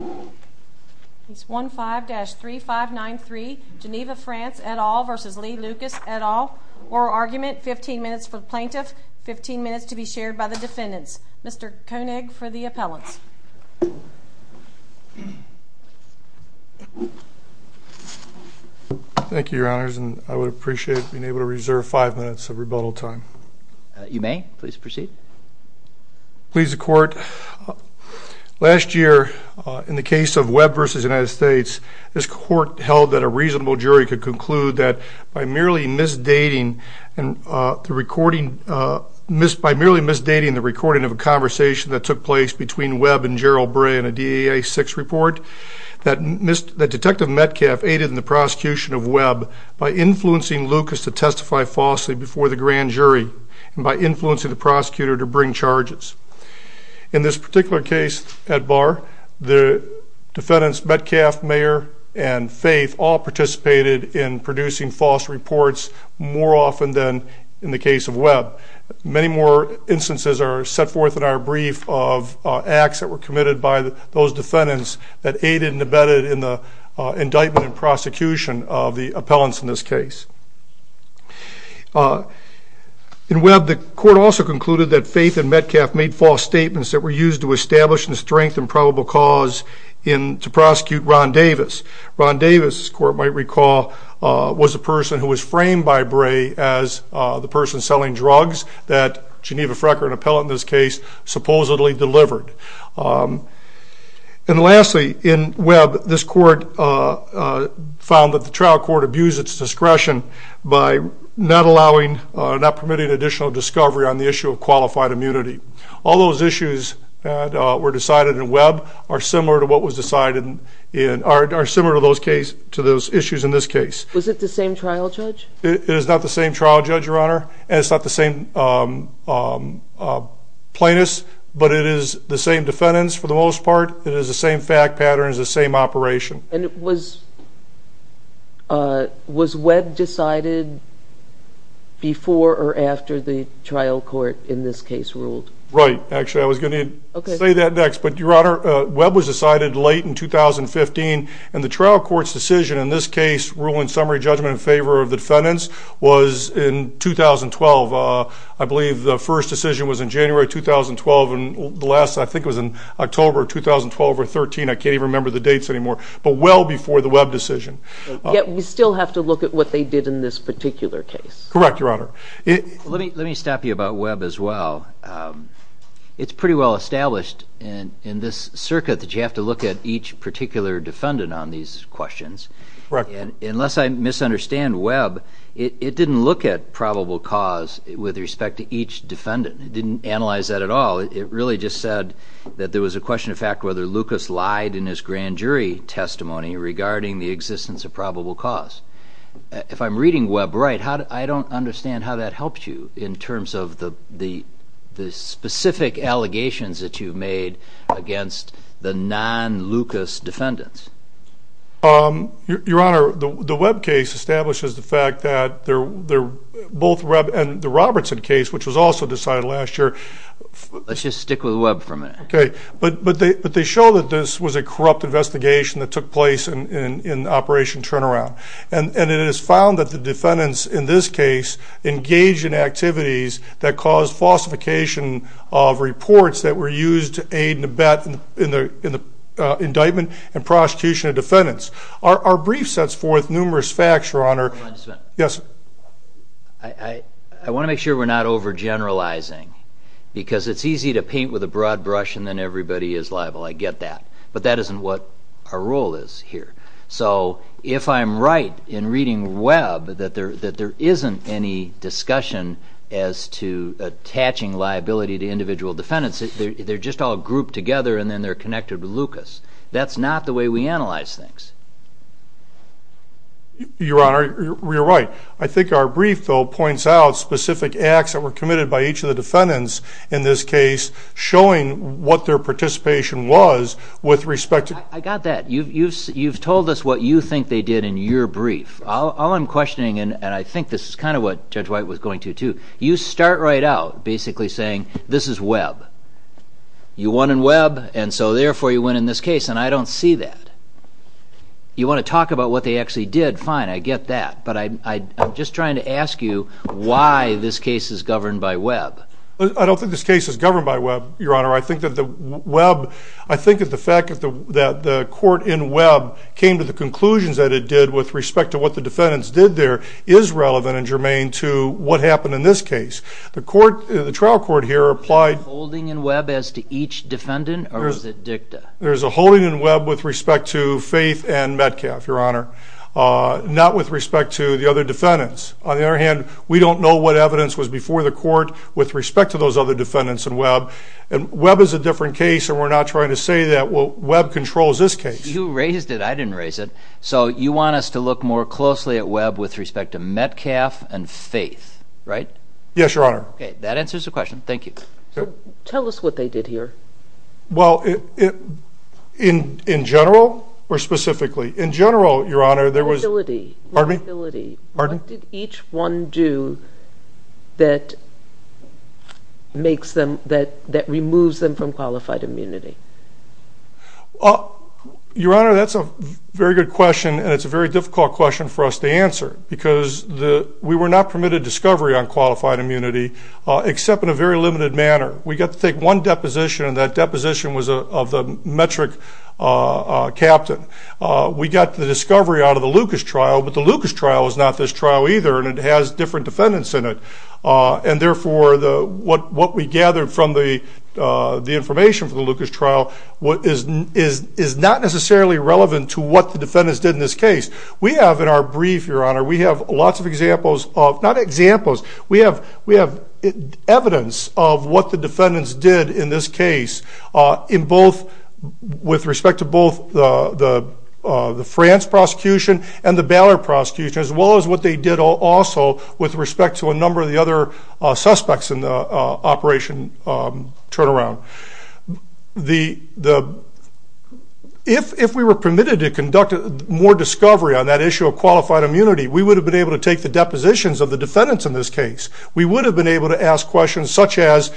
15 minutes for plaintiff, 15 minutes to be shared by the defendants. Mr. Koenig for the appellants. Thank you, your honors, and I would appreciate being able to reserve five minutes of rebuttal time. You may, please proceed. Please the court, last year in the case of Webb v. United States, this court held that a reasonable jury could conclude that by merely misdating and the recording, by merely misdating the recording of a conversation that took place between Webb and Gerald Bray in a DEA 6 report, that detective Metcalf aided in the prosecution of Webb by influencing Lucas to testify falsely before the grand jury and by influencing the prosecutor to bring charges. In this particular case at Barr, the defendants Metcalf, Mayer, and Faith all participated in producing false reports more often than in the case of Webb. Many more instances are set forth in our brief of acts that were committed by those defendants that aided and abetted in the indictment and prosecution of the appellants in this case. In Webb, the court also concluded that Faith and Metcalf made false statements that were used to establish and strengthen probable cause to prosecute Ron Davis. Ron Davis, this court might recall, was a person who was framed by Bray as the person selling drugs that Geneva Frecker, an appellant in this case, supposedly delivered. And lastly, in Webb, this court found that the trial court abused its discretion by not allowing, not permitting additional discovery on the issue of qualified immunity. All those issues that were decided in Webb are similar to what was decided in, are similar to those cases, to those issues in this case. Was it the same trial judge? It is not the same trial judge, Your Honor, and it's not the same plaintiffs, but it is the same defendants for the most part. It is the same fact patterns, the same operation. And was, was Webb decided before or after the trial court in this case ruled? Right, actually I was going to say that next, but Your Honor, Webb was decided late in 2015, and the trial court's decision in this case, ruling summary judgment in 2012, I believe the first decision was in January 2012, and the last I think was in October 2012 or 13, I can't even remember the dates anymore, but well before the Webb decision. Yet we still have to look at what they did in this particular case. Correct, Your Honor. Let me stop you about Webb as well. It's pretty well established in this circuit that you have to look at each particular defendant on these questions. Correct. And unless I misunderstand Webb, it didn't look at probable cause with respect to each defendant. It didn't analyze that at all. It really just said that there was a question of fact whether Lucas lied in his grand jury testimony regarding the existence of probable cause. If I'm reading Webb right, how do, I don't understand how that helps you in terms of the, the, the specific allegations that you've made against the non-Lucas defendants. Your Honor, the Webb case establishes the both Webb and the Robertson case, which was also decided last year. Let's just stick with Webb for a minute. Okay, but, but they, but they show that this was a corrupt investigation that took place in, in, in Operation Turnaround. And, and it is found that the defendants in this case engaged in activities that caused falsification of reports that were used to aid and abet in the, in the indictment and prosecution of defendants. Our brief sets forth numerous facts, Your Honor. Yes. I, I, I want to make sure we're not overgeneralizing because it's easy to paint with a broad brush and then everybody is liable. I get that. But that isn't what our role is here. So if I'm right in reading Webb that there, that there isn't any discussion as to attaching liability to individual defendants, they're, they're just all grouped together and then they're connected with Lucas. That's not the way we analyze things. Your Honor, you're right. I think our brief, though, points out specific acts that were committed by each of the defendants in this case showing what their participation was with respect to... I got that. You've, you've, you've told us what you think they did in your brief. All I'm questioning, and I think this is kind of what Judge White was going to too, you start right out basically saying this is Webb. You won in Webb and so therefore you win in this case. And I don't see that. You want to I'm just trying to ask you why this case is governed by Webb. I don't think this case is governed by Webb, Your Honor. I think that the Webb, I think of the fact that the, that the court in Webb came to the conclusions that it did with respect to what the defendants did there is relevant and germane to what happened in this case. The court, the trial court here applied... Is there a holding in Webb as to each defendant or is it dicta? There's a holding in Webb with respect to Faith and Metcalf, Your Honor. Not with respect to the other defendants. On the other hand, we don't know what evidence was before the court with respect to those other defendants in Webb. And Webb is a different case and we're not trying to say that well, Webb controls this case. You raised it, I didn't raise it. So you want us to look more closely at Webb with respect to Metcalf and Faith, right? Yes, Your Honor. Okay, that answers the question. Thank you. Tell us what they did here. Well, in general or specifically? In general, Your Honor, there was... What did each one do that makes them, that removes them from qualified immunity? Well, Your Honor, that's a very good question and it's a very difficult question for us to answer because we were not permitted discovery on qualified immunity except in a very limited manner. We got to take one deposition and that deposition was of the metric captain. We got the discovery out of the Lucas trial, but the Lucas trial is not this trial either and it has different defendants in it. And therefore, what we gathered from the information from the Lucas trial is not necessarily relevant to what the defendants did in this case. We have in our brief, Your Honor, we have lots of examples of, not examples, we have evidence of what the defendants did in this case with respect to both the France prosecution and the Ballard prosecution as well as what they did also with respect to a number of the other suspects in the operation turnaround. If we were permitted to conduct more discovery on that issue of qualified immunity, we would have been able to take the depositions of the defendants in this case. We would have been able to ask questions such as,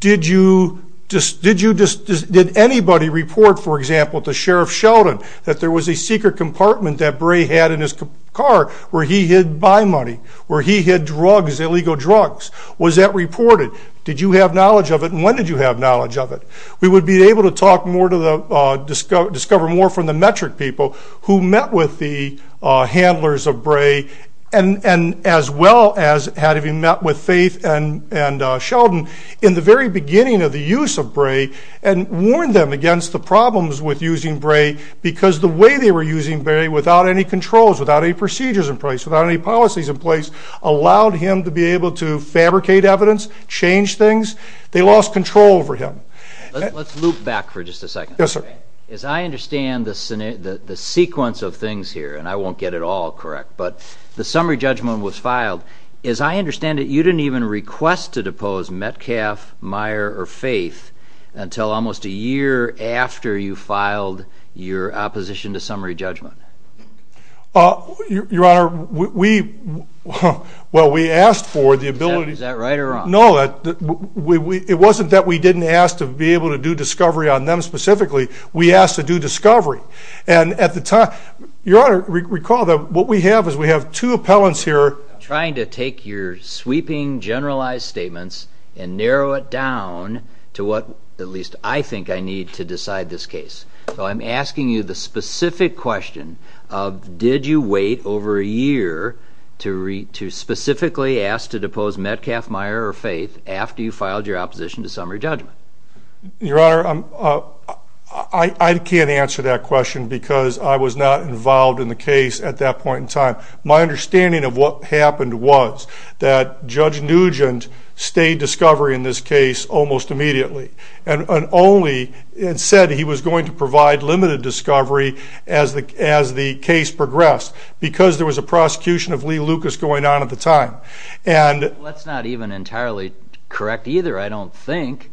did anybody report, for example, to Sheriff Sheldon that there was a secret compartment that Bray had in his car where he hid buy money, where he hid drugs, illegal drugs. Was that reported? Did you have knowledge of it and when did you have knowledge of it? We would be able to talk more to the, discover more from the metric people who met with the handlers of Bray and as well as had to be met with Faith and Sheldon in the very beginning of the use of Bray and warn them against the problems with using Bray because the way they were using Bray without any controls, without any procedures in place, without any policies in place, allowed him to be able to fabricate evidence, change things. They lost control over him. Let's loop back for just a second. Yes, sir. As I understand the sequence of things here, and I won't get it all correct, but the summary judgment was filed. As I understand it, you didn't even request to depose Metcalf, Meyer, or Faith until almost a year after you filed your opposition to summary judgment. Your Honor, we, well we asked for the ability. Is that right or wrong? No, it wasn't that we didn't ask to be able to do discovery on them specifically, we asked to do discovery. And at the time, Your Honor, recall that what we have is we have two appellants here trying to take your sweeping generalized statements and narrow it down to what at least I think I need to decide this case. So I'm asking you the specific question of did you wait over a year to read to specifically ask to depose Metcalf, Meyer, or Faith after you filed your I can't answer that question because I was not involved in the case at that point in time. My understanding of what happened was that Judge Nugent stayed discovery in this case almost immediately and only said he was going to provide limited discovery as the case progressed because there was a prosecution of Lee Lucas going on at the time. And that's not even entirely correct either, I don't think.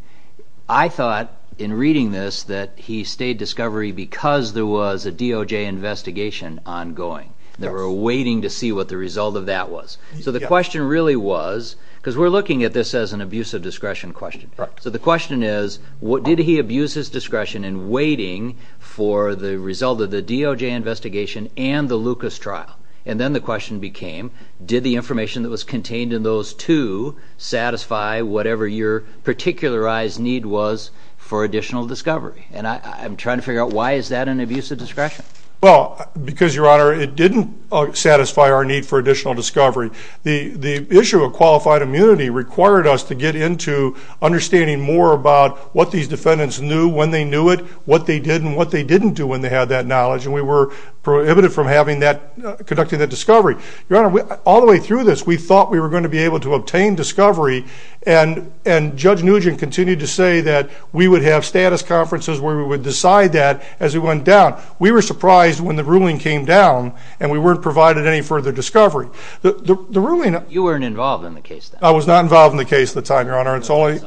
I thought in reading this that he stayed discovery because there was a DOJ investigation ongoing. They were waiting to see what the result of that was. So the question really was, because we're looking at this as an abuse of discretion question, so the question is what did he abuse his discretion in waiting for the result of the DOJ investigation and the Lucas trial? And then the question became did the information that was contained in those two satisfy whatever your particularized need was for additional discovery? And I'm trying to figure out why is that an abuse of discretion? Well because your honor it didn't satisfy our need for additional discovery. The issue of qualified immunity required us to get into understanding more about what these defendants knew, when they knew it, what they did, and what they didn't do when they had that knowledge. And we were prohibited from having that, conducting that discovery. Your honor, all the way through this we thought we were going to be able to obtain discovery and Judge Nugent continued to say that we would have status conferences where we would decide that as we went down. We were surprised when the ruling came down and we weren't provided any further discovery. You weren't involved in the case then? I was not involved in the case at the time, your honor, it's only...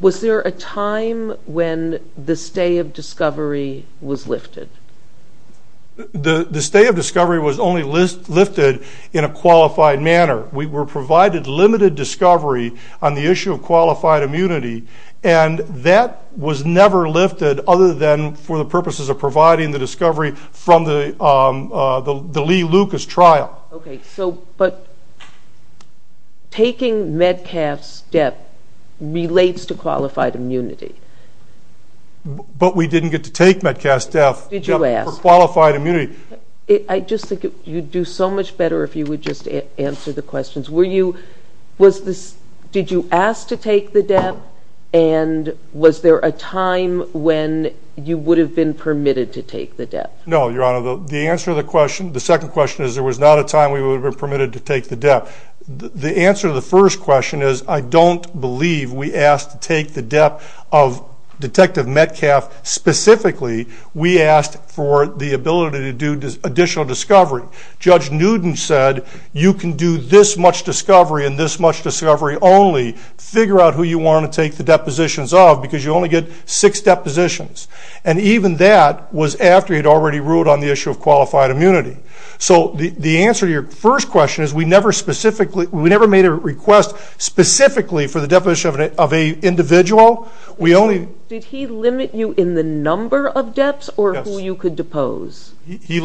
Was there a time when the stay of discovery was lifted? The stay of discovery was lifted in a qualified manner. We were provided limited discovery on the issue of qualified immunity and that was never lifted other than for the purposes of providing the discovery from the Lee-Lucas trial. Okay, so but taking Medcalf's death relates to qualified immunity? But we didn't get to take Medcalf's death for qualified immunity. I just think you'd do so much better if you would just answer the questions. Were you, was this, did you ask to take the death and was there a time when you would have been permitted to take the death? No, your honor, the answer to the question, the second question is there was not a time we would have been permitted to take the death. The answer to the first question is I don't believe we asked to take the death of Detective Medcalf specifically. We asked for the ability to do additional discovery. Judge Newton said you can do this much discovery and this much discovery only, figure out who you want to take the depositions of because you only get six depositions and even that was after he'd already ruled on the issue of qualified immunity. So the answer to your first question is we never specifically, we never made a request specifically for the deposition of an individual. We only... Did he limit you in the number of deaths or who you could depose? He,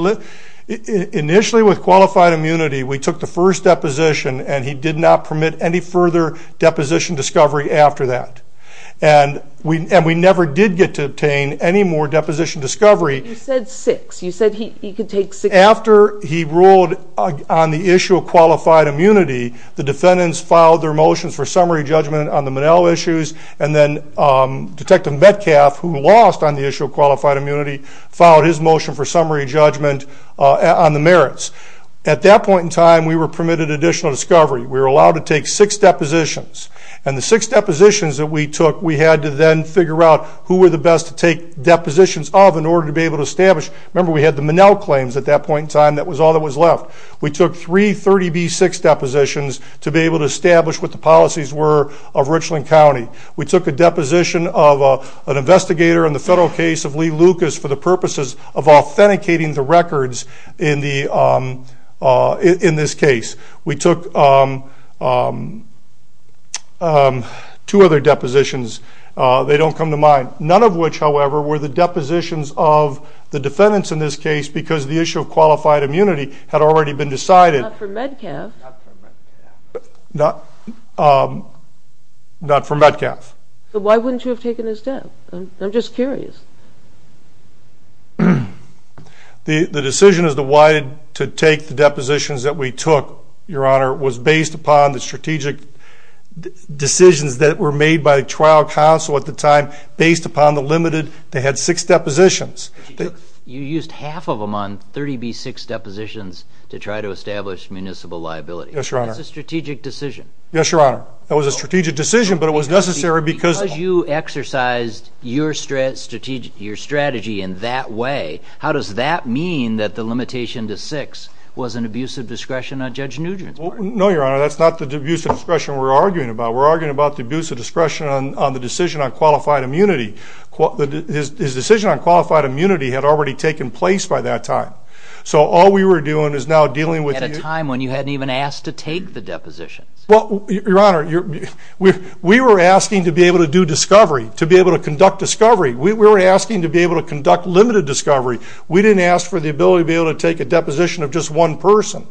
initially with qualified immunity we took the first deposition and he did not permit any further deposition discovery after that and we and we never did get to obtain any more deposition discovery. You said six, you said he could take six. After he ruled on the issue of qualified immunity the defendants filed their motions for summary judgment on the Monell issues and then Detective Medcalf who lost on the issue of qualified immunity filed his motion for summary judgment on the merits. At that point in time we were permitted additional discovery. We were allowed to take six depositions and the six depositions that we took we had to then figure out who were the best to take depositions of in order to be able to establish. Remember we had the Monell claims at that point in time that was all that was left. We took three 30b6 depositions to be able to establish what the policies were of Richland County. We took a deposition of an investigator in the federal case of Lee Lucas for the of authenticating the records in the in this case. We took two other depositions they don't come to mind. None of which however were the depositions of the defendants in this case because the issue of qualified immunity had already been decided. Not for Medcalf. Not for Medcalf. Why wouldn't you have taken his deposition? I'm just curious. The decision as to why to take the depositions that we took your honor was based upon the strategic decisions that were made by the trial council at the time based upon the limited they had six depositions. You used half of them on 30b6 depositions to try to establish municipal liability. Yes your honor. That's a strategic decision. Yes your honor. That was a strategic decision but it was necessary because you exercised your strategy in that way. How does that mean that the limitation to six was an abuse of discretion on Judge Nugent's part? No your honor. That's not the abuse of discretion we're arguing about. We're arguing about the abuse of discretion on the decision on qualified immunity. His decision on qualified immunity had already taken place by that time. So all we were doing is now dealing with a time when you hadn't even asked to we were asking to be able to do discovery. To be able to conduct discovery. We were asking to be able to conduct limited discovery. We didn't ask for the ability to be able to take a deposition of just one person.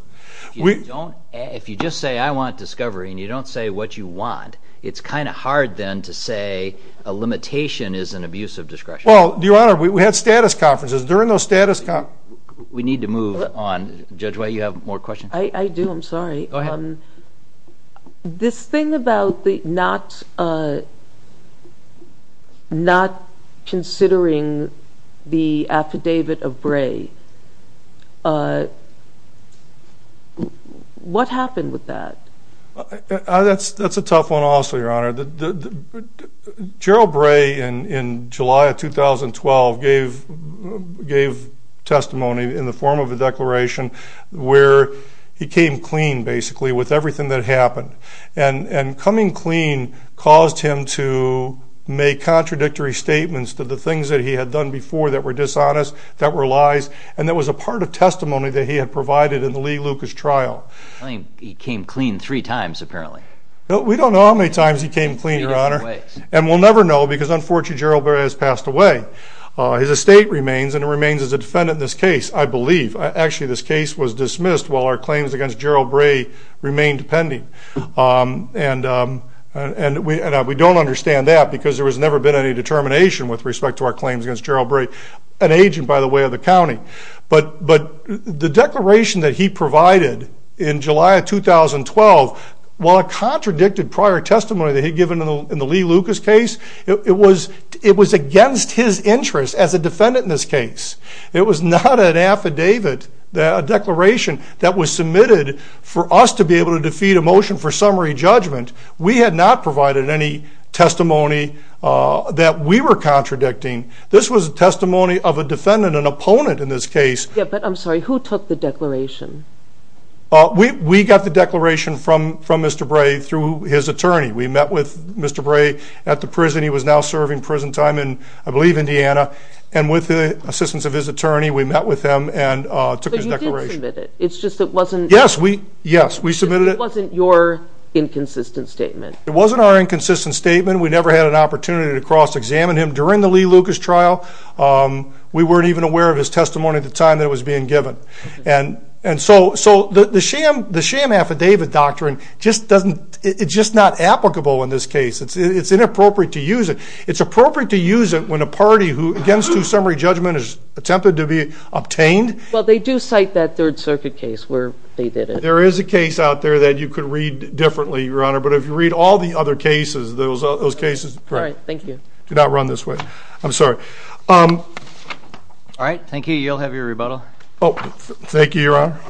If you just say I want discovery and you don't say what you want it's kind of hard then to say a limitation is an abuse of discretion. Well your honor we had status conferences during those status conferences. We need to move on. Judge White you have more questions. I do I'm sorry. This thing about the not not considering the affidavit of Bray. What happened with that? That's that's a tough one also your honor. Gerald Bray in in July of 2012 gave gave testimony in the form of a he came clean basically with everything that happened and and coming clean caused him to make contradictory statements to the things that he had done before that were dishonest that were lies and that was a part of testimony that he had provided in the Lee Lucas trial. He came clean three times apparently. We don't know how many times he came clean your honor and we'll never know because unfortunately Gerald Bray has passed away. His estate remains and it remains as a defendant in this case I believe. Actually this case was against Gerald Bray remained pending and and we and we don't understand that because there was never been any determination with respect to our claims against Gerald Bray an agent by the way of the county but but the declaration that he provided in July of 2012 while a contradicted prior testimony that he given in the Lee Lucas case it was it was against his interest as a defendant in this case. It was not an affidavit that a declaration that was submitted for us to be able to defeat a motion for summary judgment. We had not provided any testimony that we were contradicting. This was a testimony of a defendant an opponent in this case. Yeah but I'm sorry who took the declaration? We we got the declaration from from Mr. Bray through his attorney. We met with Mr. Bray at the assistance of his attorney. We met with him and took his declaration. But you did submit it. It's just it wasn't. Yes we yes we submitted it. It wasn't your inconsistent statement. It wasn't our inconsistent statement. We never had an opportunity to cross-examine him during the Lee Lucas trial. We weren't even aware of his testimony at the time that it was being given and and so so the the sham the sham affidavit doctrine just doesn't it's just not applicable in this case. It's it's inappropriate to use it. It's appropriate to use it when a party who against to summary judgment is attempted to be obtained. Well they do cite that Third Circuit case where they did it. There is a case out there that you could read differently your honor but if you read all the other cases those those cases. All right thank you. Do not run this way. I'm sorry. All right thank you. You'll have your rebuttal. Oh thank you your honor.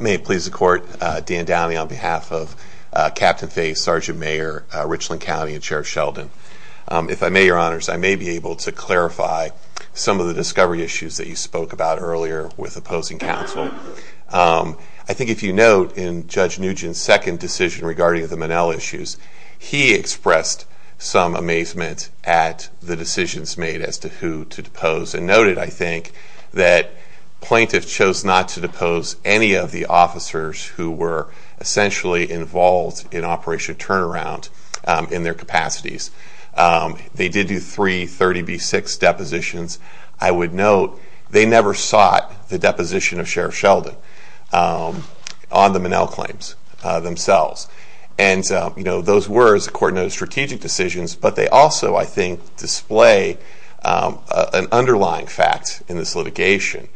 May it please the court. Dan Downey on behalf of Captain Faye, Sergeant Mayor Richland County and Sheriff Sheldon. If I may your honors I may be able to clarify some of the discovery issues that you spoke about earlier with opposing counsel. I think if you note in Judge Nugent's second decision regarding the Monell issues he expressed some amazement at the decisions made as to to depose and noted I think that plaintiffs chose not to depose any of the officers who were essentially involved in Operation Turnaround in their capacities. They did do three 30 B6 depositions. I would note they never sought the deposition of Sheriff Sheldon on the Monell claims themselves and you know those were as a court noted strategic decisions but they also I think lay an underlying fact in this litigation.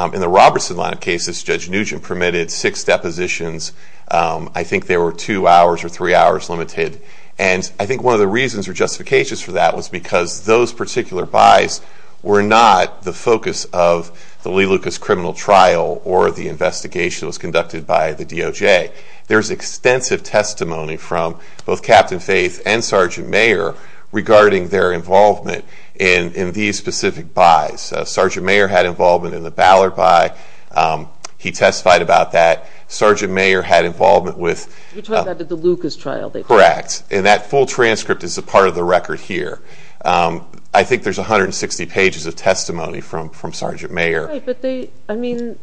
In the Robertson line of cases Judge Nugent permitted six depositions. I think there were two hours or three hours limited and I think one of the reasons or justifications for that was because those particular buys were not the focus of the Lee Lucas criminal trial or the investigation was conducted by the DOJ. There's extensive testimony from both Captain Faye and Sergeant Mayor regarding their involvement in in these specific buys. Sergeant Mayor had involvement in the Ballard buy. He testified about that. Sergeant Mayor had involvement with the Lucas trial. Correct and that full transcript is a part of the record here. I think there's a hundred and sixty pages of testimony from from Sergeant Mayor. I mean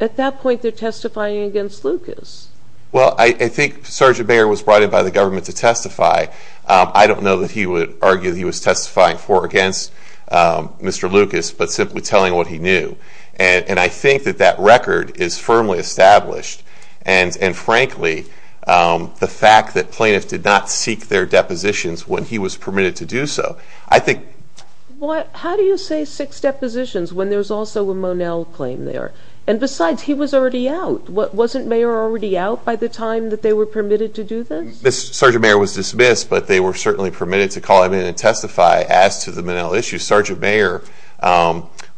at that point they're testifying against Lucas. Well I think Sergeant Mayor was brought in by the government to testify. I don't know that he would argue that he was testifying for or against Mr. Lucas but simply telling what he knew and I think that that record is firmly established and and frankly the fact that plaintiffs did not seek their depositions when he was permitted to do so. I think what how do you say six depositions when there's also a Monell claim there and besides he was already out. Wasn't Mayor already out by the time that they were permitted to do this? Sergeant Mayor was dismissed but they were certainly permitted to call him in and testify as to the Monell issue. Sergeant Mayor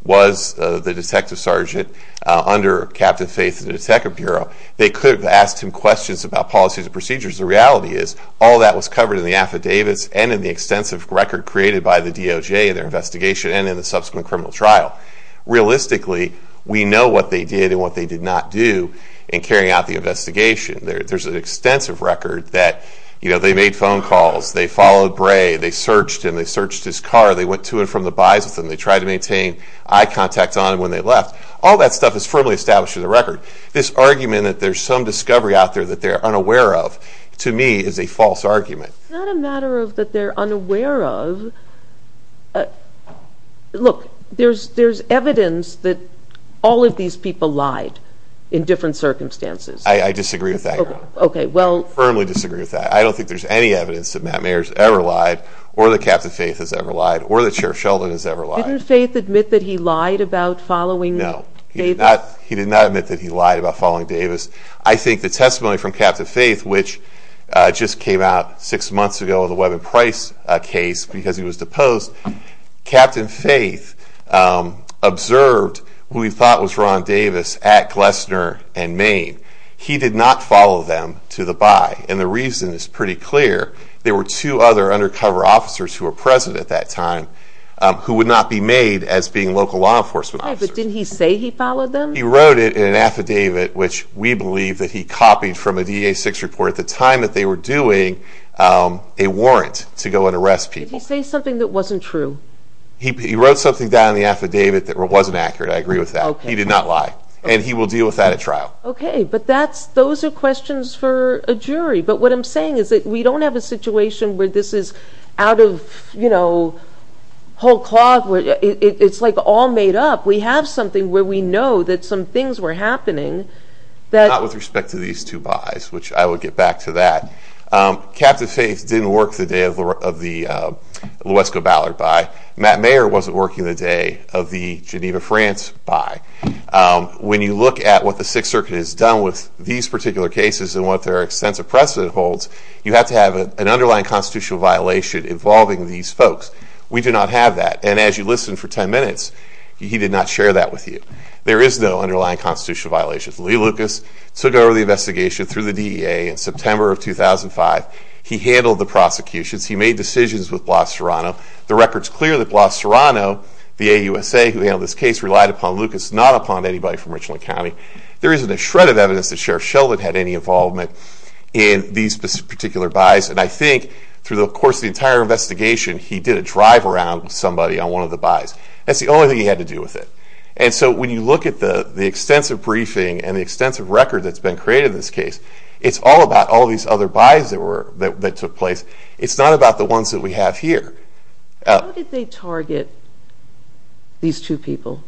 was the detective sergeant under Captain Faye's detective bureau. They could have asked him questions about policies and procedures. The reality is all that was covered in the affidavits and in the extensive record created by the DOJ and their investigation and in the subsequent criminal trial. Realistically we know what they did and what they did not do in carrying out the investigation. There's an extensive record that you made phone calls, they followed Bray, they searched him, they searched his car, they went to and from the buys with him, they tried to maintain eye contact on him when they left. All that stuff is firmly established in the record. This argument that there's some discovery out there that they're unaware of to me is a false argument. It's not a matter of that they're unaware of. Look there's there's evidence that all of these people lied in different circumstances. I disagree with that. Okay well. I firmly disagree with that. I don't think there's any evidence that Matt Mayer's ever lied or that Captain Faye has ever lied or that Sheriff Sheldon has ever lied. Didn't Faye admit that he lied about following Davis? No. He did not admit that he lied about following Davis. I think the testimony from Captain Faye which just came out six months ago in the Webb and Price case because he was deposed, Captain Faye observed who he thought was Ron Davis at Glessner and he did not follow them to the buy and the reason is pretty clear. There were two other undercover officers who were present at that time who would not be made as being local law enforcement officers. But didn't he say he followed them? He wrote it in an affidavit which we believe that he copied from a DA6 report at the time that they were doing a warrant to go and arrest people. Did he say something that wasn't true? He wrote something down in the affidavit that wasn't accurate. I agree with that. He did not lie and he will deal with that at trial. Okay but that's those are questions for a jury but what I'm saying is that we don't have a situation where this is out of you know whole cloth where it's like all made up. We have something where we know that some things were happening. Not with respect to these two buys which I will get back to that. Captain Faye didn't work the day of the Lowe'sco Ballard buy. Matt Mayer wasn't working the day of the Geneva France buy. When you look at what the Sixth Circuit has done with these particular cases and what their extensive precedent holds you have to have an underlying constitutional violation involving these folks. We do not have that and as you listen for 10 minutes he did not share that with you. There is no underlying constitutional violation. Lee Lucas took over the investigation through the DEA in September of 2005. He handled the prosecutions. He made decisions with Blas Serrano. The record's clear that Blas relied upon Lucas not upon anybody from Richland County. There isn't a shred of evidence that Sheriff Sheldon had any involvement in these particular buys and I think through the course of the entire investigation he did a drive around somebody on one of the buys. That's the only thing he had to do with it and so when you look at the the extensive briefing and the extensive record that's been created in this case it's all about all these other buys that were that took place. It's not about the ones that we have here. How did they target these two people?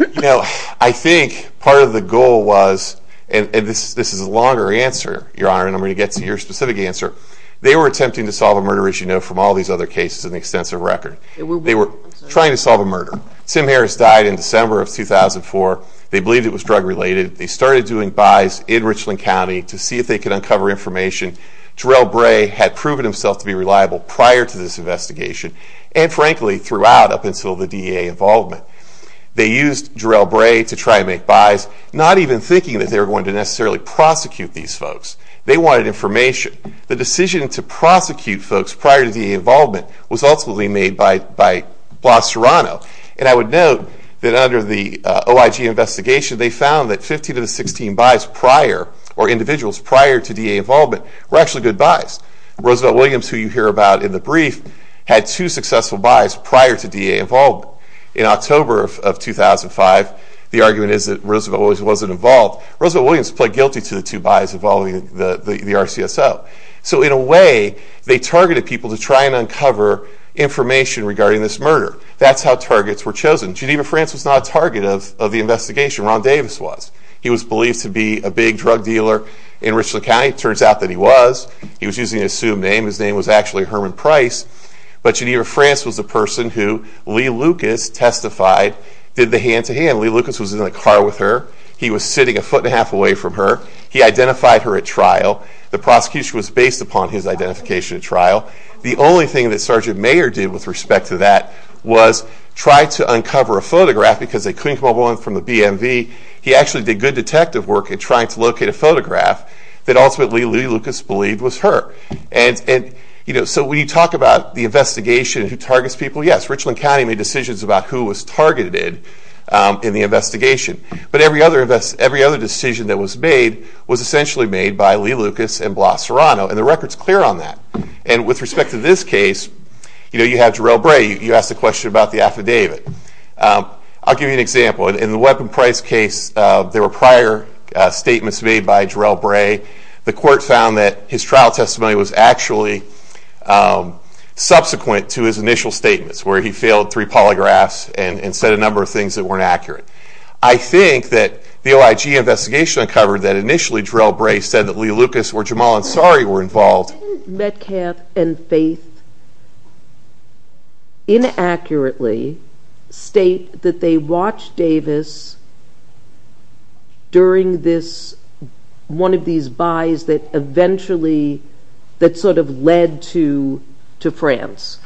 You know I think part of the goal was and this is a longer answer your honor and I'm going to get to your specific answer. They were attempting to solve a murder as you know from all these other cases in the extensive record. They were trying to solve a murder. Tim Harris died in December of 2004. They believed it was drug-related. They started doing buys in Richland County to see if they could uncover information. Jarrell Bray had proven himself to be reliable prior to this investigation and frankly throughout up until the DEA involvement. They used Jarrell Bray to try and make buys not even thinking that they were going to necessarily prosecute these folks. They wanted information. The decision to prosecute folks prior to the involvement was ultimately made by Blas Serrano and I would note that under the OIG investigation they found that 15 of the 16 buys prior or individuals prior to DEA involvement were actually good buys. Roosevelt Williams who you hear about in the brief had two successful buys prior to DEA involvement. In October of 2005 the argument is that Roosevelt Williams wasn't involved. Roosevelt Williams pled guilty to the two buys involving the RCSO. So in a way they targeted people to try and uncover information regarding this murder. That's how targets were chosen. Geneva France was not a target of the investigation. Ron Davis was. He was believed to be a big drug dealer in Richland County. Turns out that he was. He was using assumed name. His name was actually Herman Price. But Geneva France was the person who Lee Lucas testified, did the hand-to-hand. Lee Lucas was in the car with her. He was sitting a foot and a half away from her. He identified her at trial. The prosecution was based upon his identification at trial. The only thing that Sergeant Mayer did with respect to that was try to uncover a photograph because they couldn't come up with one from the BMV. He actually did good detective work in trying to locate a photograph that ultimately Lee Lucas believed was her. So we talk about the investigation who targets people. Yes, Richland County made decisions about who was targeted in the investigation. But every other decision that was made was essentially made by Lee Lucas and Blas Serrano. And the record's clear on that. And with respect to this case, you have Jarrell Bray. You asked a question about the affidavit. I'll give you an example. In the Weapon Price case, there were prior statements made by Jarrell Bray. The court found that his trial testimony was actually subsequent to his initial statements, where he failed three polygraphs and said a number of things that weren't accurate. I think that the OIG investigation uncovered that initially Jarrell Bray said that Lee Lucas or Jamal Ansari were involved. Didn't Metcalf and Faith inaccurately state that they watched Davis during this, one of these buys that eventually, that sort of led to to France?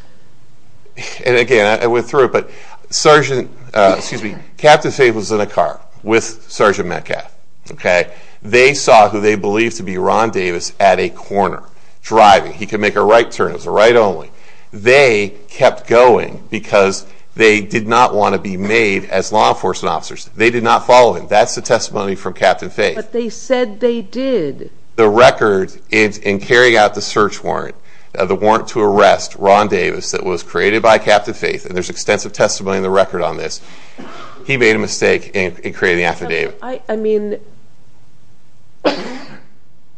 And again, I went through it, but Sergeant, excuse me, Captain Faith was in a car with Sergeant Metcalf, okay? They saw who they believed to be Ron Davis at a corner driving. He could make a right turn. It was a right only. They kept going because they did not want to be made as law enforcement officers. They did not follow him. That's the testimony from Captain Faith. But they said they did. The record in carrying out the search warrant, the warrant to arrest Ron Davis that was created by Captain Faith, and there's extensive testimony in the record on this, he made a mistake in creating the affidavit. I mean,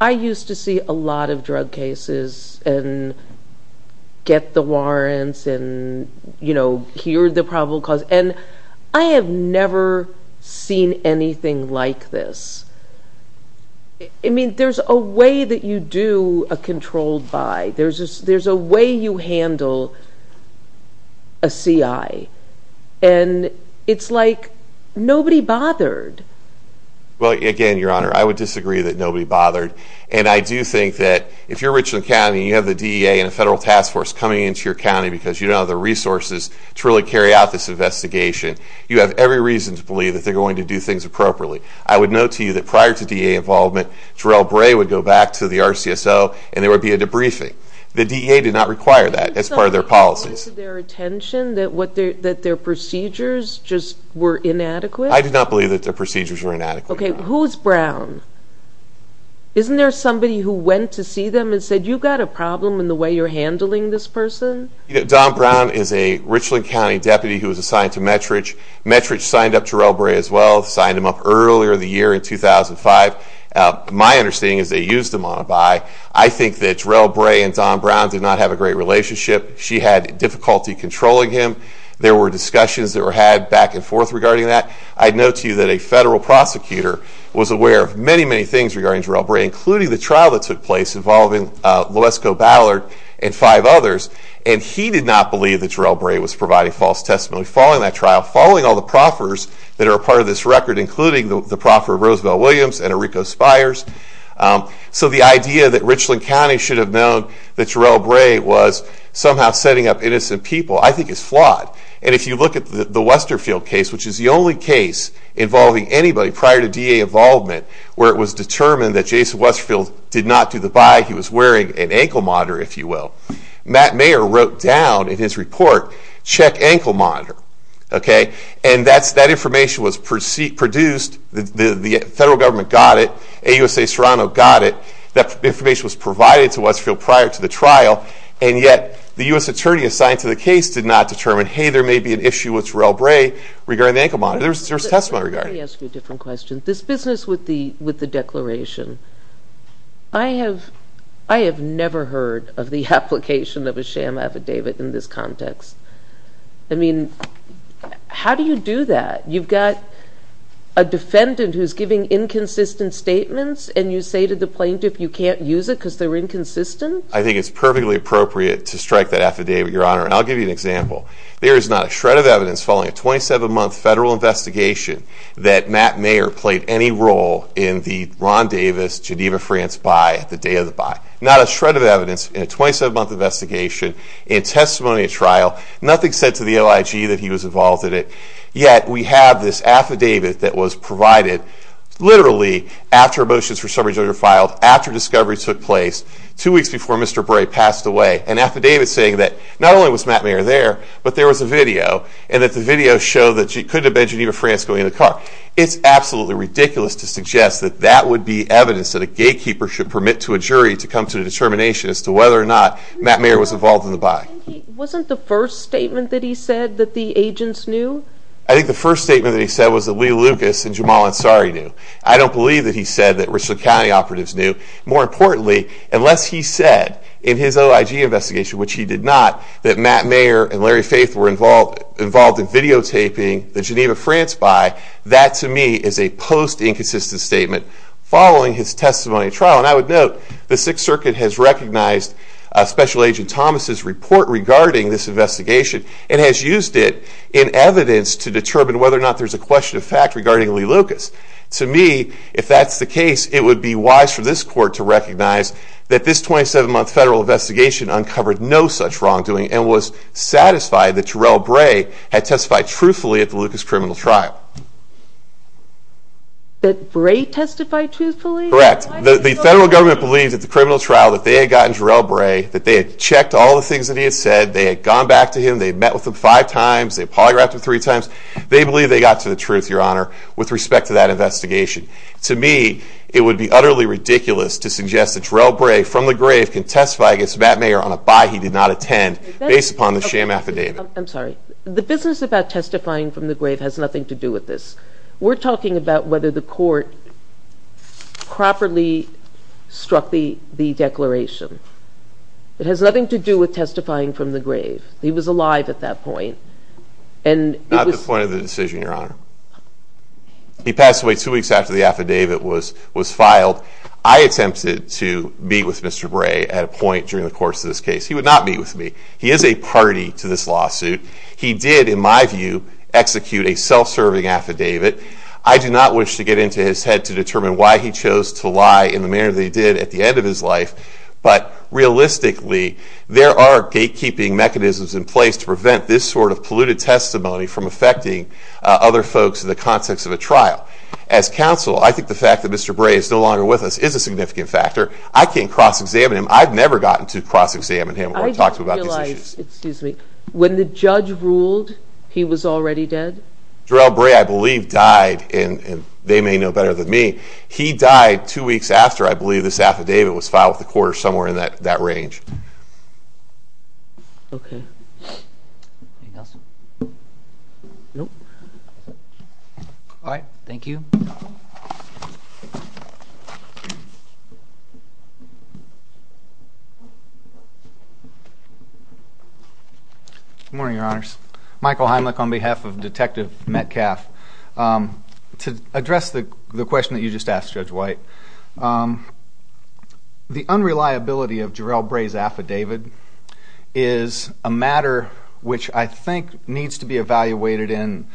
I used to see a lot of drug cases and get the warrants and, you know, hear the probable cause. And I have never seen anything like this. I mean, there's a way that you do a controlled buy. There's a way you handle a CI. And it's like nobody bothered. Well, again, Your Honor, I would disagree that nobody bothered. And I do think that if you're Richland County and you have the DEA and a federal task force coming into your county because you don't have the resources to really carry out this investigation, you have every reason to believe that they're going to do things appropriately. I would note to you that prior to DEA involvement, Jarell Bray would go back to the RCSO and there would be a debriefing. The DEA did not require that as part of their policies. Do you think it was to their attention that their procedures just were inadequate? I did not believe that their procedures were inadequate. Okay, who's Brown? Isn't there somebody who went to see them and said, you've got a problem in the way you're handling this person? Don Brown is a Richland County deputy who was assigned to Metridge. Metridge signed up Jarell Bray as well, signed him up earlier in the year in 2005. My understanding is they used him on a buy. I think that Jarell Bray and Don Brown did not have a great relationship. She had difficulty controlling him. There were discussions that were had back and forth regarding that. I'd note to you that a federal prosecutor was aware of many, many things regarding Jarell Bray, including the And he did not believe that Jarell Bray was providing false testimony following that trial, following all the proffers that are a part of this record, including the proffer of Roosevelt Williams and Enrico Spires. So the idea that Richland County should have known that Jarell Bray was somehow setting up innocent people, I think is flawed. And if you look at the Westerfield case, which is the only case involving anybody prior to DEA involvement, where it was determined that Jason Westerfield did not do the buy, he was wearing an ankle monitor, if you will. Matt Mayer wrote down in his report, check ankle monitor, okay? And that information was produced, the federal government got it, AUSA Serrano got it, that information was provided to Westerfield prior to the trial, and yet the U.S. Attorney assigned to the case did not determine, hey, there may be an issue with Jarell Bray regarding the ankle monitor. There was testimony regarding it. Let me ask you a different question. This business with the Declaration, I have never heard of the application of a sham affidavit in this context. I mean, how do you do that? You've got a defendant who's giving inconsistent statements and you say to the plaintiff you can't use it because they're inconsistent? I think it's perfectly appropriate to strike that affidavit, Your Honor, and I'll give you an example. There is not a shred of evidence following a 27-month federal investigation that Matt Mayer played any role in the Ron Davis Geneva France buy at the day of the buy. Not a shred of evidence in a 27-month investigation, in testimony at trial, nothing said to the OIG that he was involved in it, yet we have this affidavit that was provided literally after motions for summary judgment were filed, after discoveries took place, two weeks before Mr. Bray passed away, an affidavit saying that not only was Matt Mayer there, but there was a video and that the video showed that he couldn't have been Geneva France going in the car. It's absolutely ridiculous to suggest that that would be evidence that gatekeepers should permit to a jury to come to a determination as to whether or not Matt Mayer was involved in the buy. Wasn't the first statement that he said that the agents knew? I think the first statement that he said was that Lee Lucas and Jamal Ansari knew. I don't believe that he said that Richland County operatives knew. More importantly, unless he said in his OIG investigation, which he did not, that Matt Mayer and Larry Faith were involved involved in videotaping the Geneva France buy, that to me is a post-inconsistent statement following his testimony trial. And I would note the Sixth Circuit has recognized Special Agent Thomas's report regarding this investigation and has used it in evidence to determine whether or not there's a question of fact regarding Lee Lucas. To me, if that's the case, it would be wise for this court to recognize that this 27-month federal investigation uncovered no such wrongdoing and was satisfied that Terrell Bray had testified truthfully at the Correct. The federal government believes at the criminal trial that they had gotten Terrell Bray, that they had checked all the things that he had said, they had gone back to him, they met with him five times, they polygraphed him three times. They believe they got to the truth, Your Honor, with respect to that investigation. To me, it would be utterly ridiculous to suggest that Terrell Bray from the grave can testify against Matt Mayer on a buy he did not attend based upon the sham affidavit. I'm sorry, the business about testifying from the grave has nothing to do with this. We're talking about whether the court properly struck the the declaration. It has nothing to do with testifying from the grave. He was alive at that point and... Not the point of the decision, Your Honor. He passed away two weeks after the affidavit was was filed. I attempted to meet with Mr. Bray at a point during the course of this case. He would not meet with me. He is a party to this lawsuit. He did, in my view, execute a self-serving affidavit. I do not wish to get into his head to determine why he chose to lie in the manner that he did at the end of his life, but realistically, there are gatekeeping mechanisms in place to prevent this sort of polluted testimony from affecting other folks in the context of a trial. As counsel, I think the fact that Mr. Bray is no longer with us is a significant factor. I can't to cross-examine him or talk to him about these issues. I didn't realize, excuse me, when the judge ruled he was already dead? Jarrell Bray, I believe, died, and they may know better than me. He died two weeks after, I believe, this affidavit was filed with the court or somewhere in that that range. Okay. Anything else? Nope. All right. Thank you. Good morning, Your Honors. Michael Heimlich on behalf of Detective Metcalf. To address the question that you just asked Judge White, the unreliability of Jarrell Bray's affidavit is a matter which I think needs to be evaluated in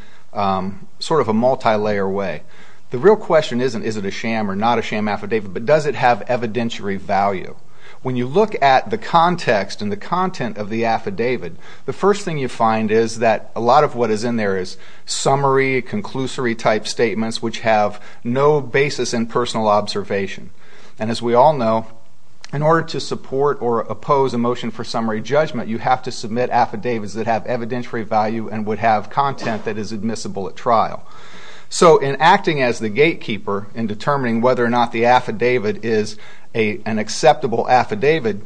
sort of a multi-layer way. The real question isn't, is it a sham or not a sham affidavit, but does it have evidentiary value? When you look at the context and the content of the affidavit, the first thing you find is that a lot of what is in there is summary, conclusory type statements which have no basis in personal observation. And as we all know, in order to support or oppose a motion for summary judgment, you have to submit affidavits that have evidentiary value and would have content that is admissible at trial. So in acting as the gatekeeper in determining whether or not the affidavit is an acceptable affidavit,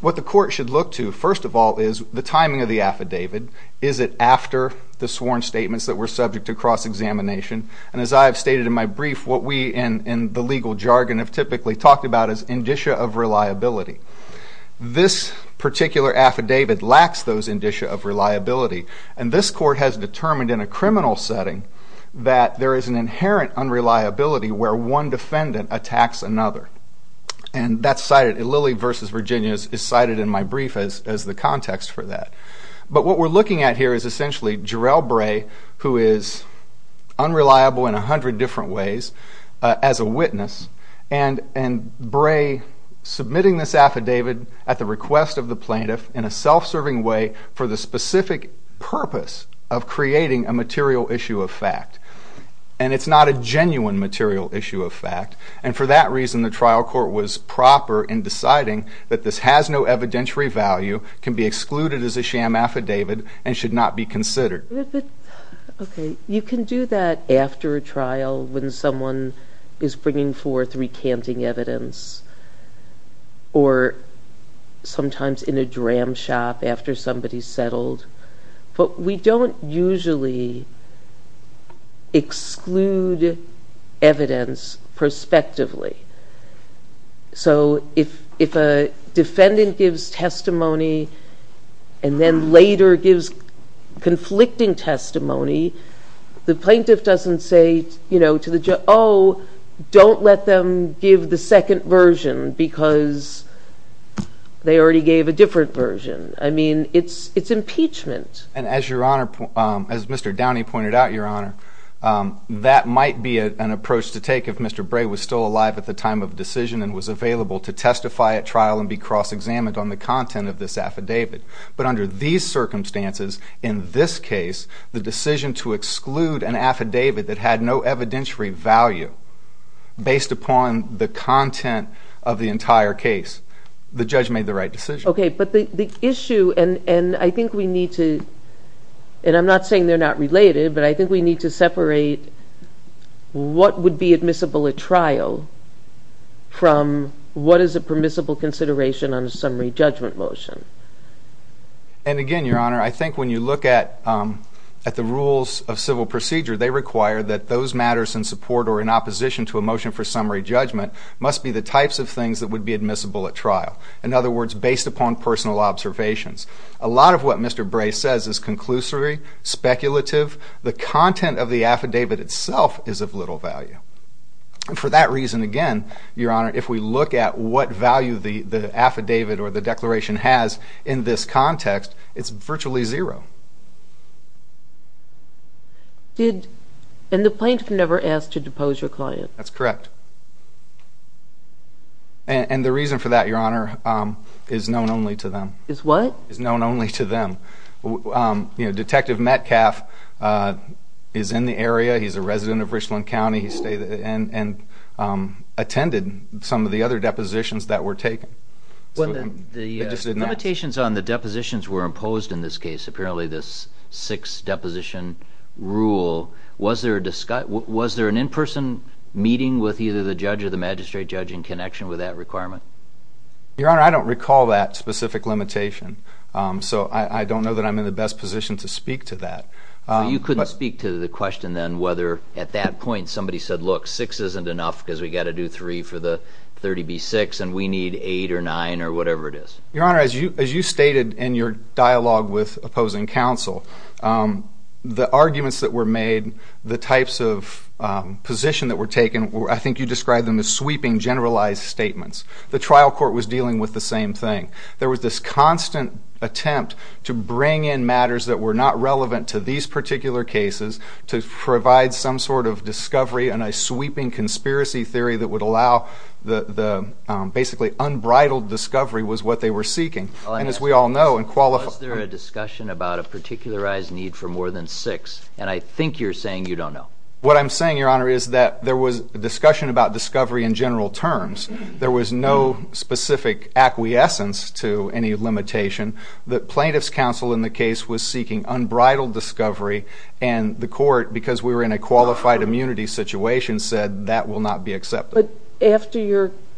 what the court should look to, first of all, is the timing of the affidavit. Is it after the sworn statements that were subject to cross-examination? And as I have stated in my brief, what we in the legal jargon have typically talked about is indicia of reliability. This particular affidavit lacks those indicia of reliability, and this court has determined in a criminal setting that there is an inherent unreliability where one defendant attacks another. And that's cited, Lilly v. Virginia is cited in my brief as the context for that. But what we're looking at here is essentially Jarrell Bray, who is unreliable in a hundred different ways as a witness, and Bray submitting this affidavit at the request of the plaintiff in a self-serving way for the specific purpose of creating a material issue of fact. And it's not a genuine material issue of fact, and for that reason the trial court was proper in deciding that this has no evidentiary value, can be excluded as a sham affidavit, and should not be considered. Okay, you can do that after a trial when someone is bringing forth recanting evidence, or sometimes in a dram shop after somebody's settled, but we don't usually exclude evidence prospectively. So if a defendant gives testimony and then later gives conflicting testimony, the plaintiff doesn't say, you know, to the judge, oh, don't let them give the second version because they already gave a different version. I mean, it's impeachment. And as your Honor, as Mr. Downey pointed out, your Honor, that might be an approach to take if Mr. Bray was still alive at the time of decision and was available to testify at trial and be cross-examined on the content of this affidavit. But under these circumstances, in this case, the decision to exclude an affidavit that had no evidentiary value based upon the content of the entire case, the judge made the right decision. Okay, but the issue, and I think we need to, and I'm not saying they're not related, but I think we need to separate what would be admissible at trial from what is a permissible consideration on a summary judgment motion. And again, your Honor, I think when you look at the rules of civil procedure, they require that those matters in support or in opposition to a motion for summary judgment must be the types of things that would be admissible at trial. In other words, based upon personal observations. A lot of what Mr. Bray says is conclusory, speculative. The content of the affidavit itself is of little value. For that reason, again, your Honor, if we look at what value the affidavit or the declaration has in this context, it's virtually zero. And the plaintiff never asked to depose your client? That's correct. And the reason for that, your Honor, is known only to them. Is what? Is known only to them. Detective Metcalf is in the area. He's a resident of Richland County. He stayed and attended some of the other depositions that were taken. When the limitations on the depositions were imposed in this case, apparently this sixth deposition rule, was there an in-person meeting with either the judge or the magistrate judge in connection with that requirement? Your Honor, I don't recall that specific limitation. So I don't know that I'm in the best position to speak to that. You couldn't speak to the question then whether at that point somebody said, look, six isn't enough because we've got to do three for the 30B6 and we need eight or nine or whatever it is? Your Honor, as you stated in your dialogue with opposing counsel, the arguments that were made, the types of position that were taken, I think you described them as sweeping, generalized statements. The trial court was dealing with the same thing. There was this constant attempt to bring in matters that were not relevant to these particular cases to provide some sort of discovery and a sweeping conspiracy theory that would allow the basically unbridled discovery was what they were seeking. And as we all know and qualify. Was there a discussion about a particularized need for more than six? And I think you're saying you don't know. What I'm saying, Your Honor, is that there was a discussion about discovery in general terms. There was no specific acquiescence to any limitation. The plaintiff's counsel in the case was seeking unbridled discovery and the court, because we were in a qualified immunity situation, said that will not be accepted.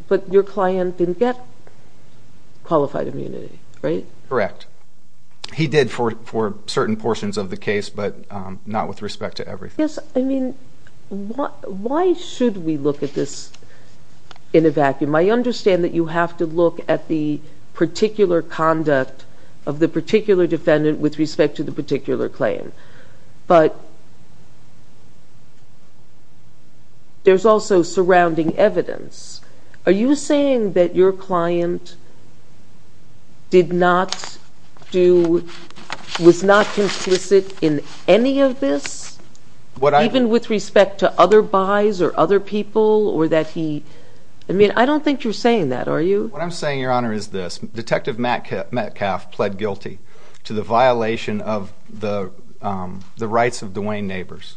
But your client didn't get qualified immunity, right? Correct. He did for certain portions of the case, but not with respect to everything. Yes, I mean, why should we look at this in a vacuum? I understand that you have to look at the particular conduct of the particular defendant with respect to the particular claim. But there's also surrounding evidence. Are you saying that your client was not complicit in any of this, even with respect to other buys or other people? I mean, I don't think you're saying that, are you? What I'm saying, Your Honor, is this. Detective Metcalf pled guilty to the violation of the rights of Duane Nabors.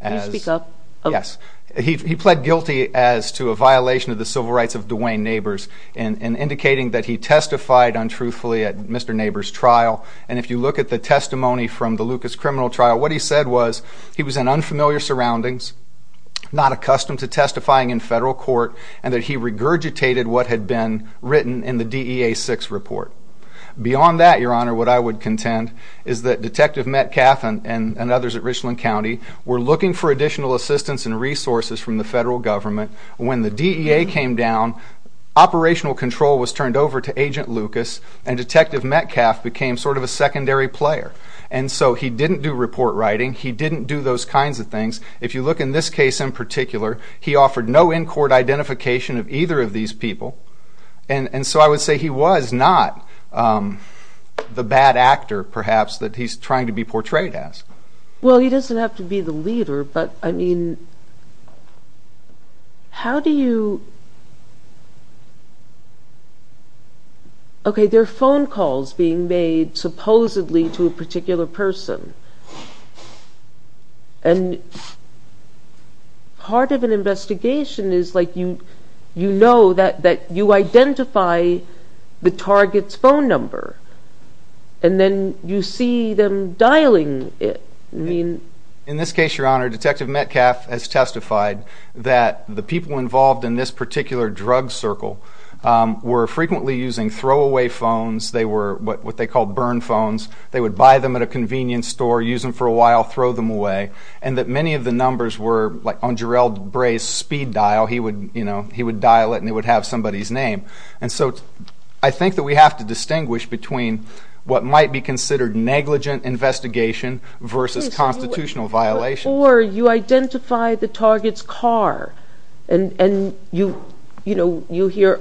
Can you speak up? Yes. He pled guilty as to a violation of the civil rights of Duane Nabors in indicating that he testified untruthfully at Mr. Nabors' trial. And if you look at the testimony from the Lucas criminal trial, what he said was he was in unfamiliar surroundings, not accustomed to testifying in federal court, and that he regurgitated what had been written in the DEA-6 report. Beyond that, Your Honor, what I would contend is that Detective Metcalf and others at Richland County were looking for additional assistance and resources from the federal government. When the DEA came down, operational control was turned over to Agent Lucas, and Detective Metcalf became sort of a secondary player. And so he didn't do report writing. He didn't do those kinds of things. If you look in this case in particular, he offered no in-court identification of either of these people. And so I would say he was not the bad actor, perhaps, that he's trying to be portrayed as. Well, he doesn't have to be the leader, but, I mean, how do you... Okay, there are phone calls being made supposedly to a particular person. And part of an investigation is, like, you know that you identify the target's phone number, and then you see them dialing it. I mean... In this case, Your Honor, Detective Metcalf has testified that the people involved in this particular drug circle were frequently using throwaway phones. They were what they called burn phones. They would buy them at a convenience store, use them for a while, throw them away. And that many of the numbers were, like, on Jarrell Bray's speed dial. He would, you know, he would dial it, and it would have somebody's name. And so I think that we have to distinguish between what might be considered negligent investigation versus constitutional violations. Or you identify the target's car, and, you know, you hear,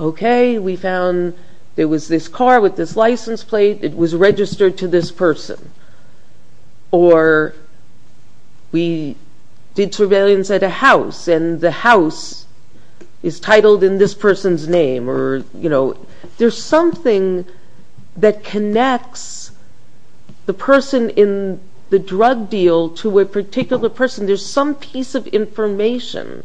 okay, we found there was this car with this license plate. It was registered to this person. Or we did surveillance at a house, and the house is titled in this person's name. Or, you know, there's something that connects the person in the drug deal to a particular person. There's some piece of information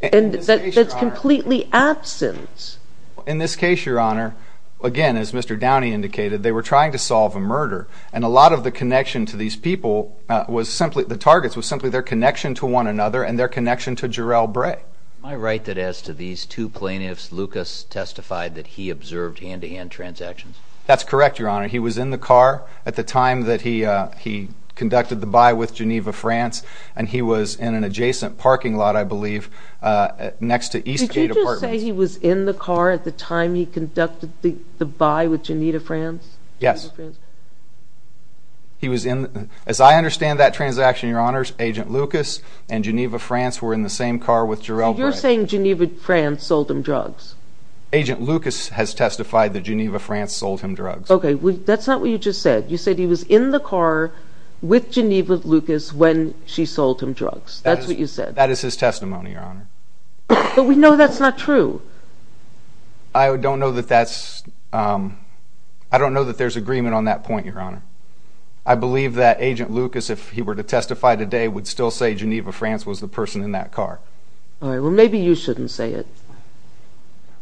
that's completely absent. In this case, Your Honor, again, as Mr. Downey indicated, they were trying to solve a murder. And a lot of the connection to these people was simply the targets was simply their connection to one another and their connection to Jarrell Bray. Am I right that as to these two plaintiffs, Lucas testified that he observed hand-to-hand transactions? That's correct, Your Honor. He was in the car at the time that he conducted the buy with Geneva, France. And he was in an adjacent parking lot, I believe, next to Eastgate Apartments. Did you say he was in the car at the time he conducted the buy with Geneva, France? Yes. As I understand that transaction, Your Honor, Agent Lucas and Geneva, France were in the same car with Jarrell Bray. So you're saying Geneva, France sold him drugs? Agent Lucas has testified that Geneva, France sold him drugs. Okay. That's not what you just said. You said he was in the car with Geneva, Lucas when she sold him drugs. That's what you said. That is his testimony, Your Honor. But we know that's not true. I don't know that there's agreement on that point, Your Honor. I believe that Agent Lucas, if he were to testify today, would still say Geneva, France was the person in that car. All right. Well, maybe you shouldn't say it.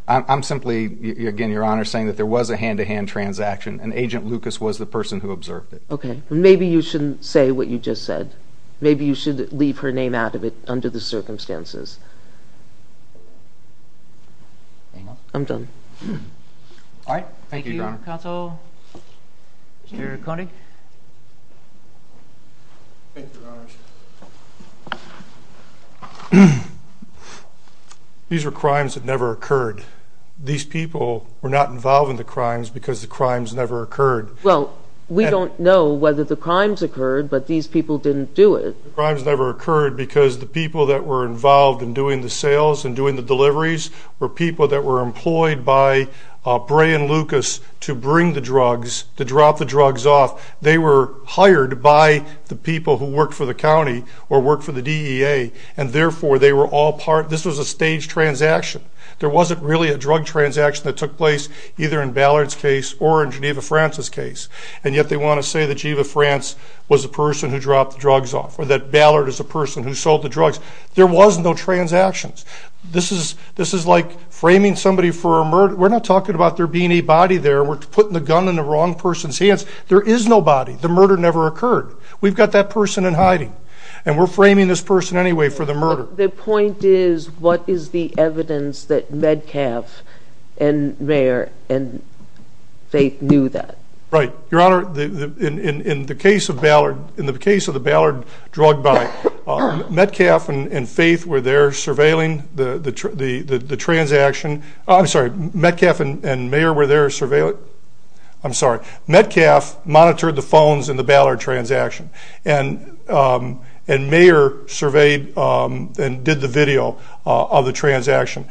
I'm simply, again, Your Honor, saying that there was a hand-to-hand transaction and Agent Lucas was the person who observed it. Okay. Maybe you shouldn't say what you just said. Maybe you should leave her name out of it under the circumstances. I'm done. All right. Thank you, Your Honor. Thank you, Counsel. Mr. Koenig. Thank you, Your Honor. These were crimes that never occurred. These people were not involved in the crimes because the crimes never occurred. Well, we don't know whether the crimes occurred, but these people didn't do it. The crimes never occurred because the people that were involved in doing the sales and doing the deliveries were people that were employed by Bray and Lucas to bring the drugs, to drop the drugs off. They were hired by the people who worked for the county or worked for the DEA, and therefore, they were all part. This was a staged transaction. There wasn't really a drug transaction that took place either in Ballard's case or in Geneva France's case, and yet they want to say that Geneva France was the person who dropped the drugs off or that Ballard is the person who sold the drugs. There was no transactions. This is like framing somebody for a murder. We're not talking about there being a body there. We're putting the gun in the wrong person's hands. There is no body. The murder never occurred. We've got that person in hiding, and we're framing this person anyway for the murder. The point is what is the evidence that Metcalf and Mayer and Faith knew that? Right. Your Honor, in the case of the Ballard drug buy, Metcalf and Faith were there surveilling the transaction. I'm sorry. Metcalf and Mayer were there surveilling. I'm sorry. Metcalf monitored the phones in the Ballard transaction. Mayer surveyed and did the video of the transaction.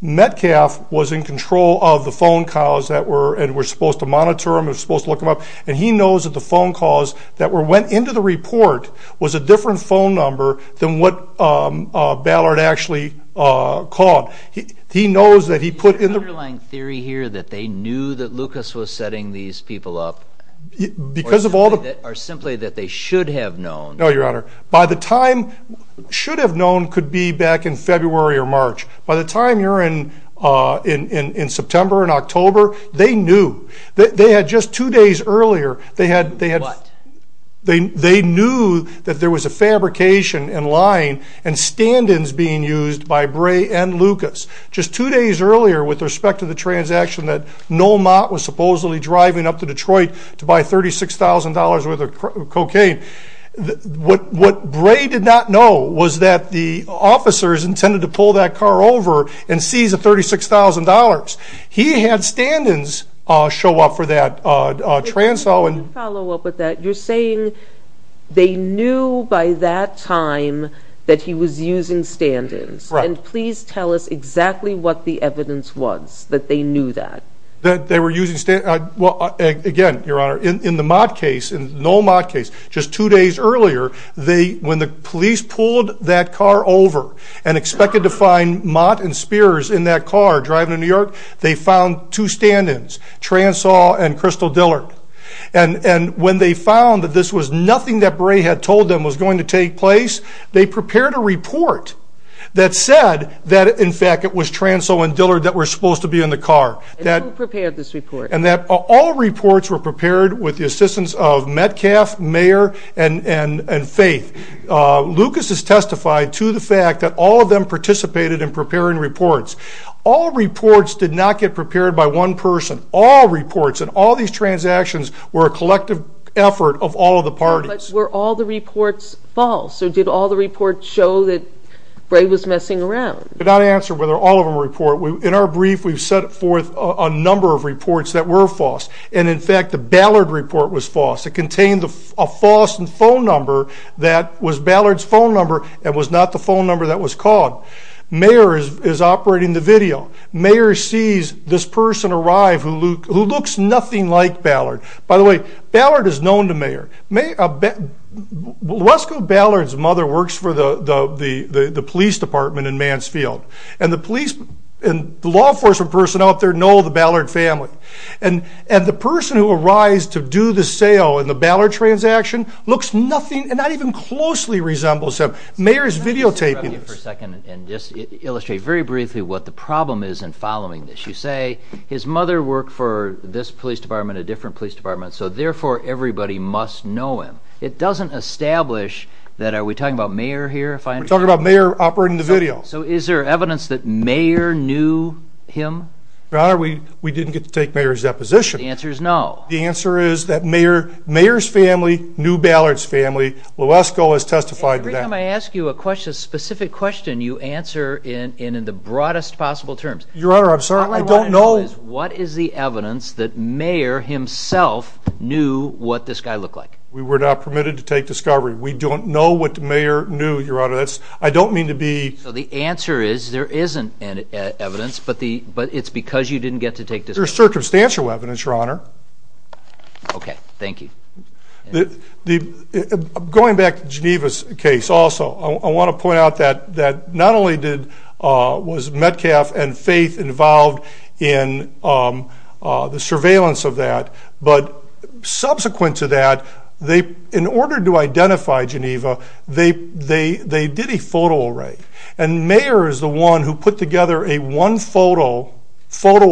Metcalf was in control of the phone calls and was supposed to monitor them and was supposed to look them up, and he knows that the phone calls that went into the report was a different phone number than what Ballard actually called. He knows that he put in the— No, Your Honor. By the time—should have known could be back in February or March. By the time you're in September and October, they knew. They had just two days earlier— What? They knew that there was a fabrication in line and stand-ins being used by Bray and Lucas. Just two days earlier, with respect to the transaction that Noel Mott was supposedly driving up to Detroit to buy $36,000 worth of cocaine, what Bray did not know was that the officers intended to pull that car over and seize the $36,000. He had stand-ins show up for that transfer. Can I follow up with that? You're saying they knew by that time that he was using stand-ins. Right. And please tell us exactly what the evidence was that they knew that. They were using—well, again, Your Honor, in the Mott case, Noel Mott case, just two days earlier, when the police pulled that car over and expected to find Mott and Spears in that car driving to New York, they found two stand-ins, Transall and Crystal Dillard. And when they found that this was nothing that Bray had told them was going to take place, they prepared a report that said that, in fact, it was Transall and Dillard that were supposed to be in the car. And who prepared this report? And that all reports were prepared with the assistance of Metcalfe, Mayer, and Faith. Lucas has testified to the fact that all of them participated in preparing reports. All reports did not get prepared by one person. All reports and all these transactions were a collective effort of all of the parties. But were all the reports false, or did all the reports show that Bray was messing around? We did not answer whether all of them were a report. In our brief, we've set forth a number of reports that were false. And, in fact, the Ballard report was false. It contained a false phone number that was Ballard's phone number and was not the phone number that was called. Mayer is operating the video. Mayer sees this person arrive who looks nothing like Ballard. By the way, Ballard is known to Mayer. Lesko Ballard's mother works for the police department in Mansfield. And the police and law enforcement personnel out there know the Ballard family. And the person who arrives to do the sale in the Ballard transaction looks nothing and not even closely resembles him. Mayer is videotaping this. Let me interrupt you for a second and just illustrate very briefly what the problem is in following this. You say his mother worked for this police department, a different police department. So, therefore, everybody must know him. It doesn't establish that are we talking about Mayer here? We're talking about Mayer operating the video. So, is there evidence that Mayer knew him? Your Honor, we didn't get to take Mayer's deposition. The answer is no. The answer is that Mayer's family knew Ballard's family. Lesko has testified to that. Every time I ask you a specific question, you answer it in the broadest possible terms. Your Honor, I'm sorry. I don't know. The question is, what is the evidence that Mayer himself knew what this guy looked like? We were not permitted to take discovery. We don't know what Mayer knew, Your Honor. I don't mean to be... So, the answer is there isn't evidence, but it's because you didn't get to take discovery. There's circumstantial evidence, Your Honor. Okay. Thank you. Going back to Geneva's case also, I want to point out that not only was Metcalf and Faith involved in the surveillance of that, but subsequent to that, in order to identify Geneva, they did a photo array. And Mayer is the one who put together a one photo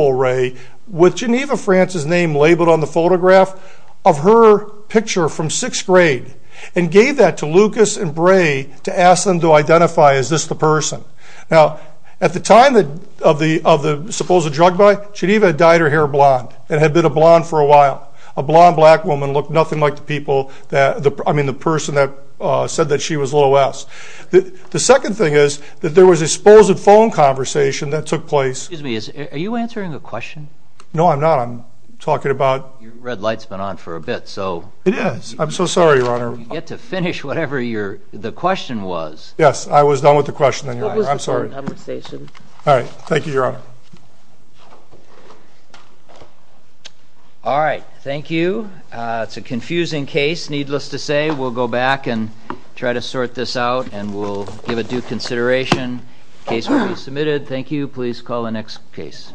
array with Geneva France's name labeled on the photograph of her picture from sixth grade and gave that to Lucas and Bray to ask them to identify, is this the person? Now, at the time of the supposed drug buy, Geneva had dyed her hair blonde and had been a blonde for a while. A blonde black woman looked nothing like the person that said that she was Little S. The second thing is that there was a supposed phone conversation that took place... Excuse me. Are you answering the question? No, I'm not. I'm talking about... Your red light's been on for a bit, so... It is. I'm so sorry, Your Honor. You get to finish whatever the question was. Yes, I was done with the question, Your Honor. I'm sorry. What was the phone conversation? All right. Thank you, Your Honor. All right. Thank you. It's a confusing case, needless to say. We'll go back and try to sort this out, and we'll give it due consideration. Case will be submitted. Thank you. Please call the next case.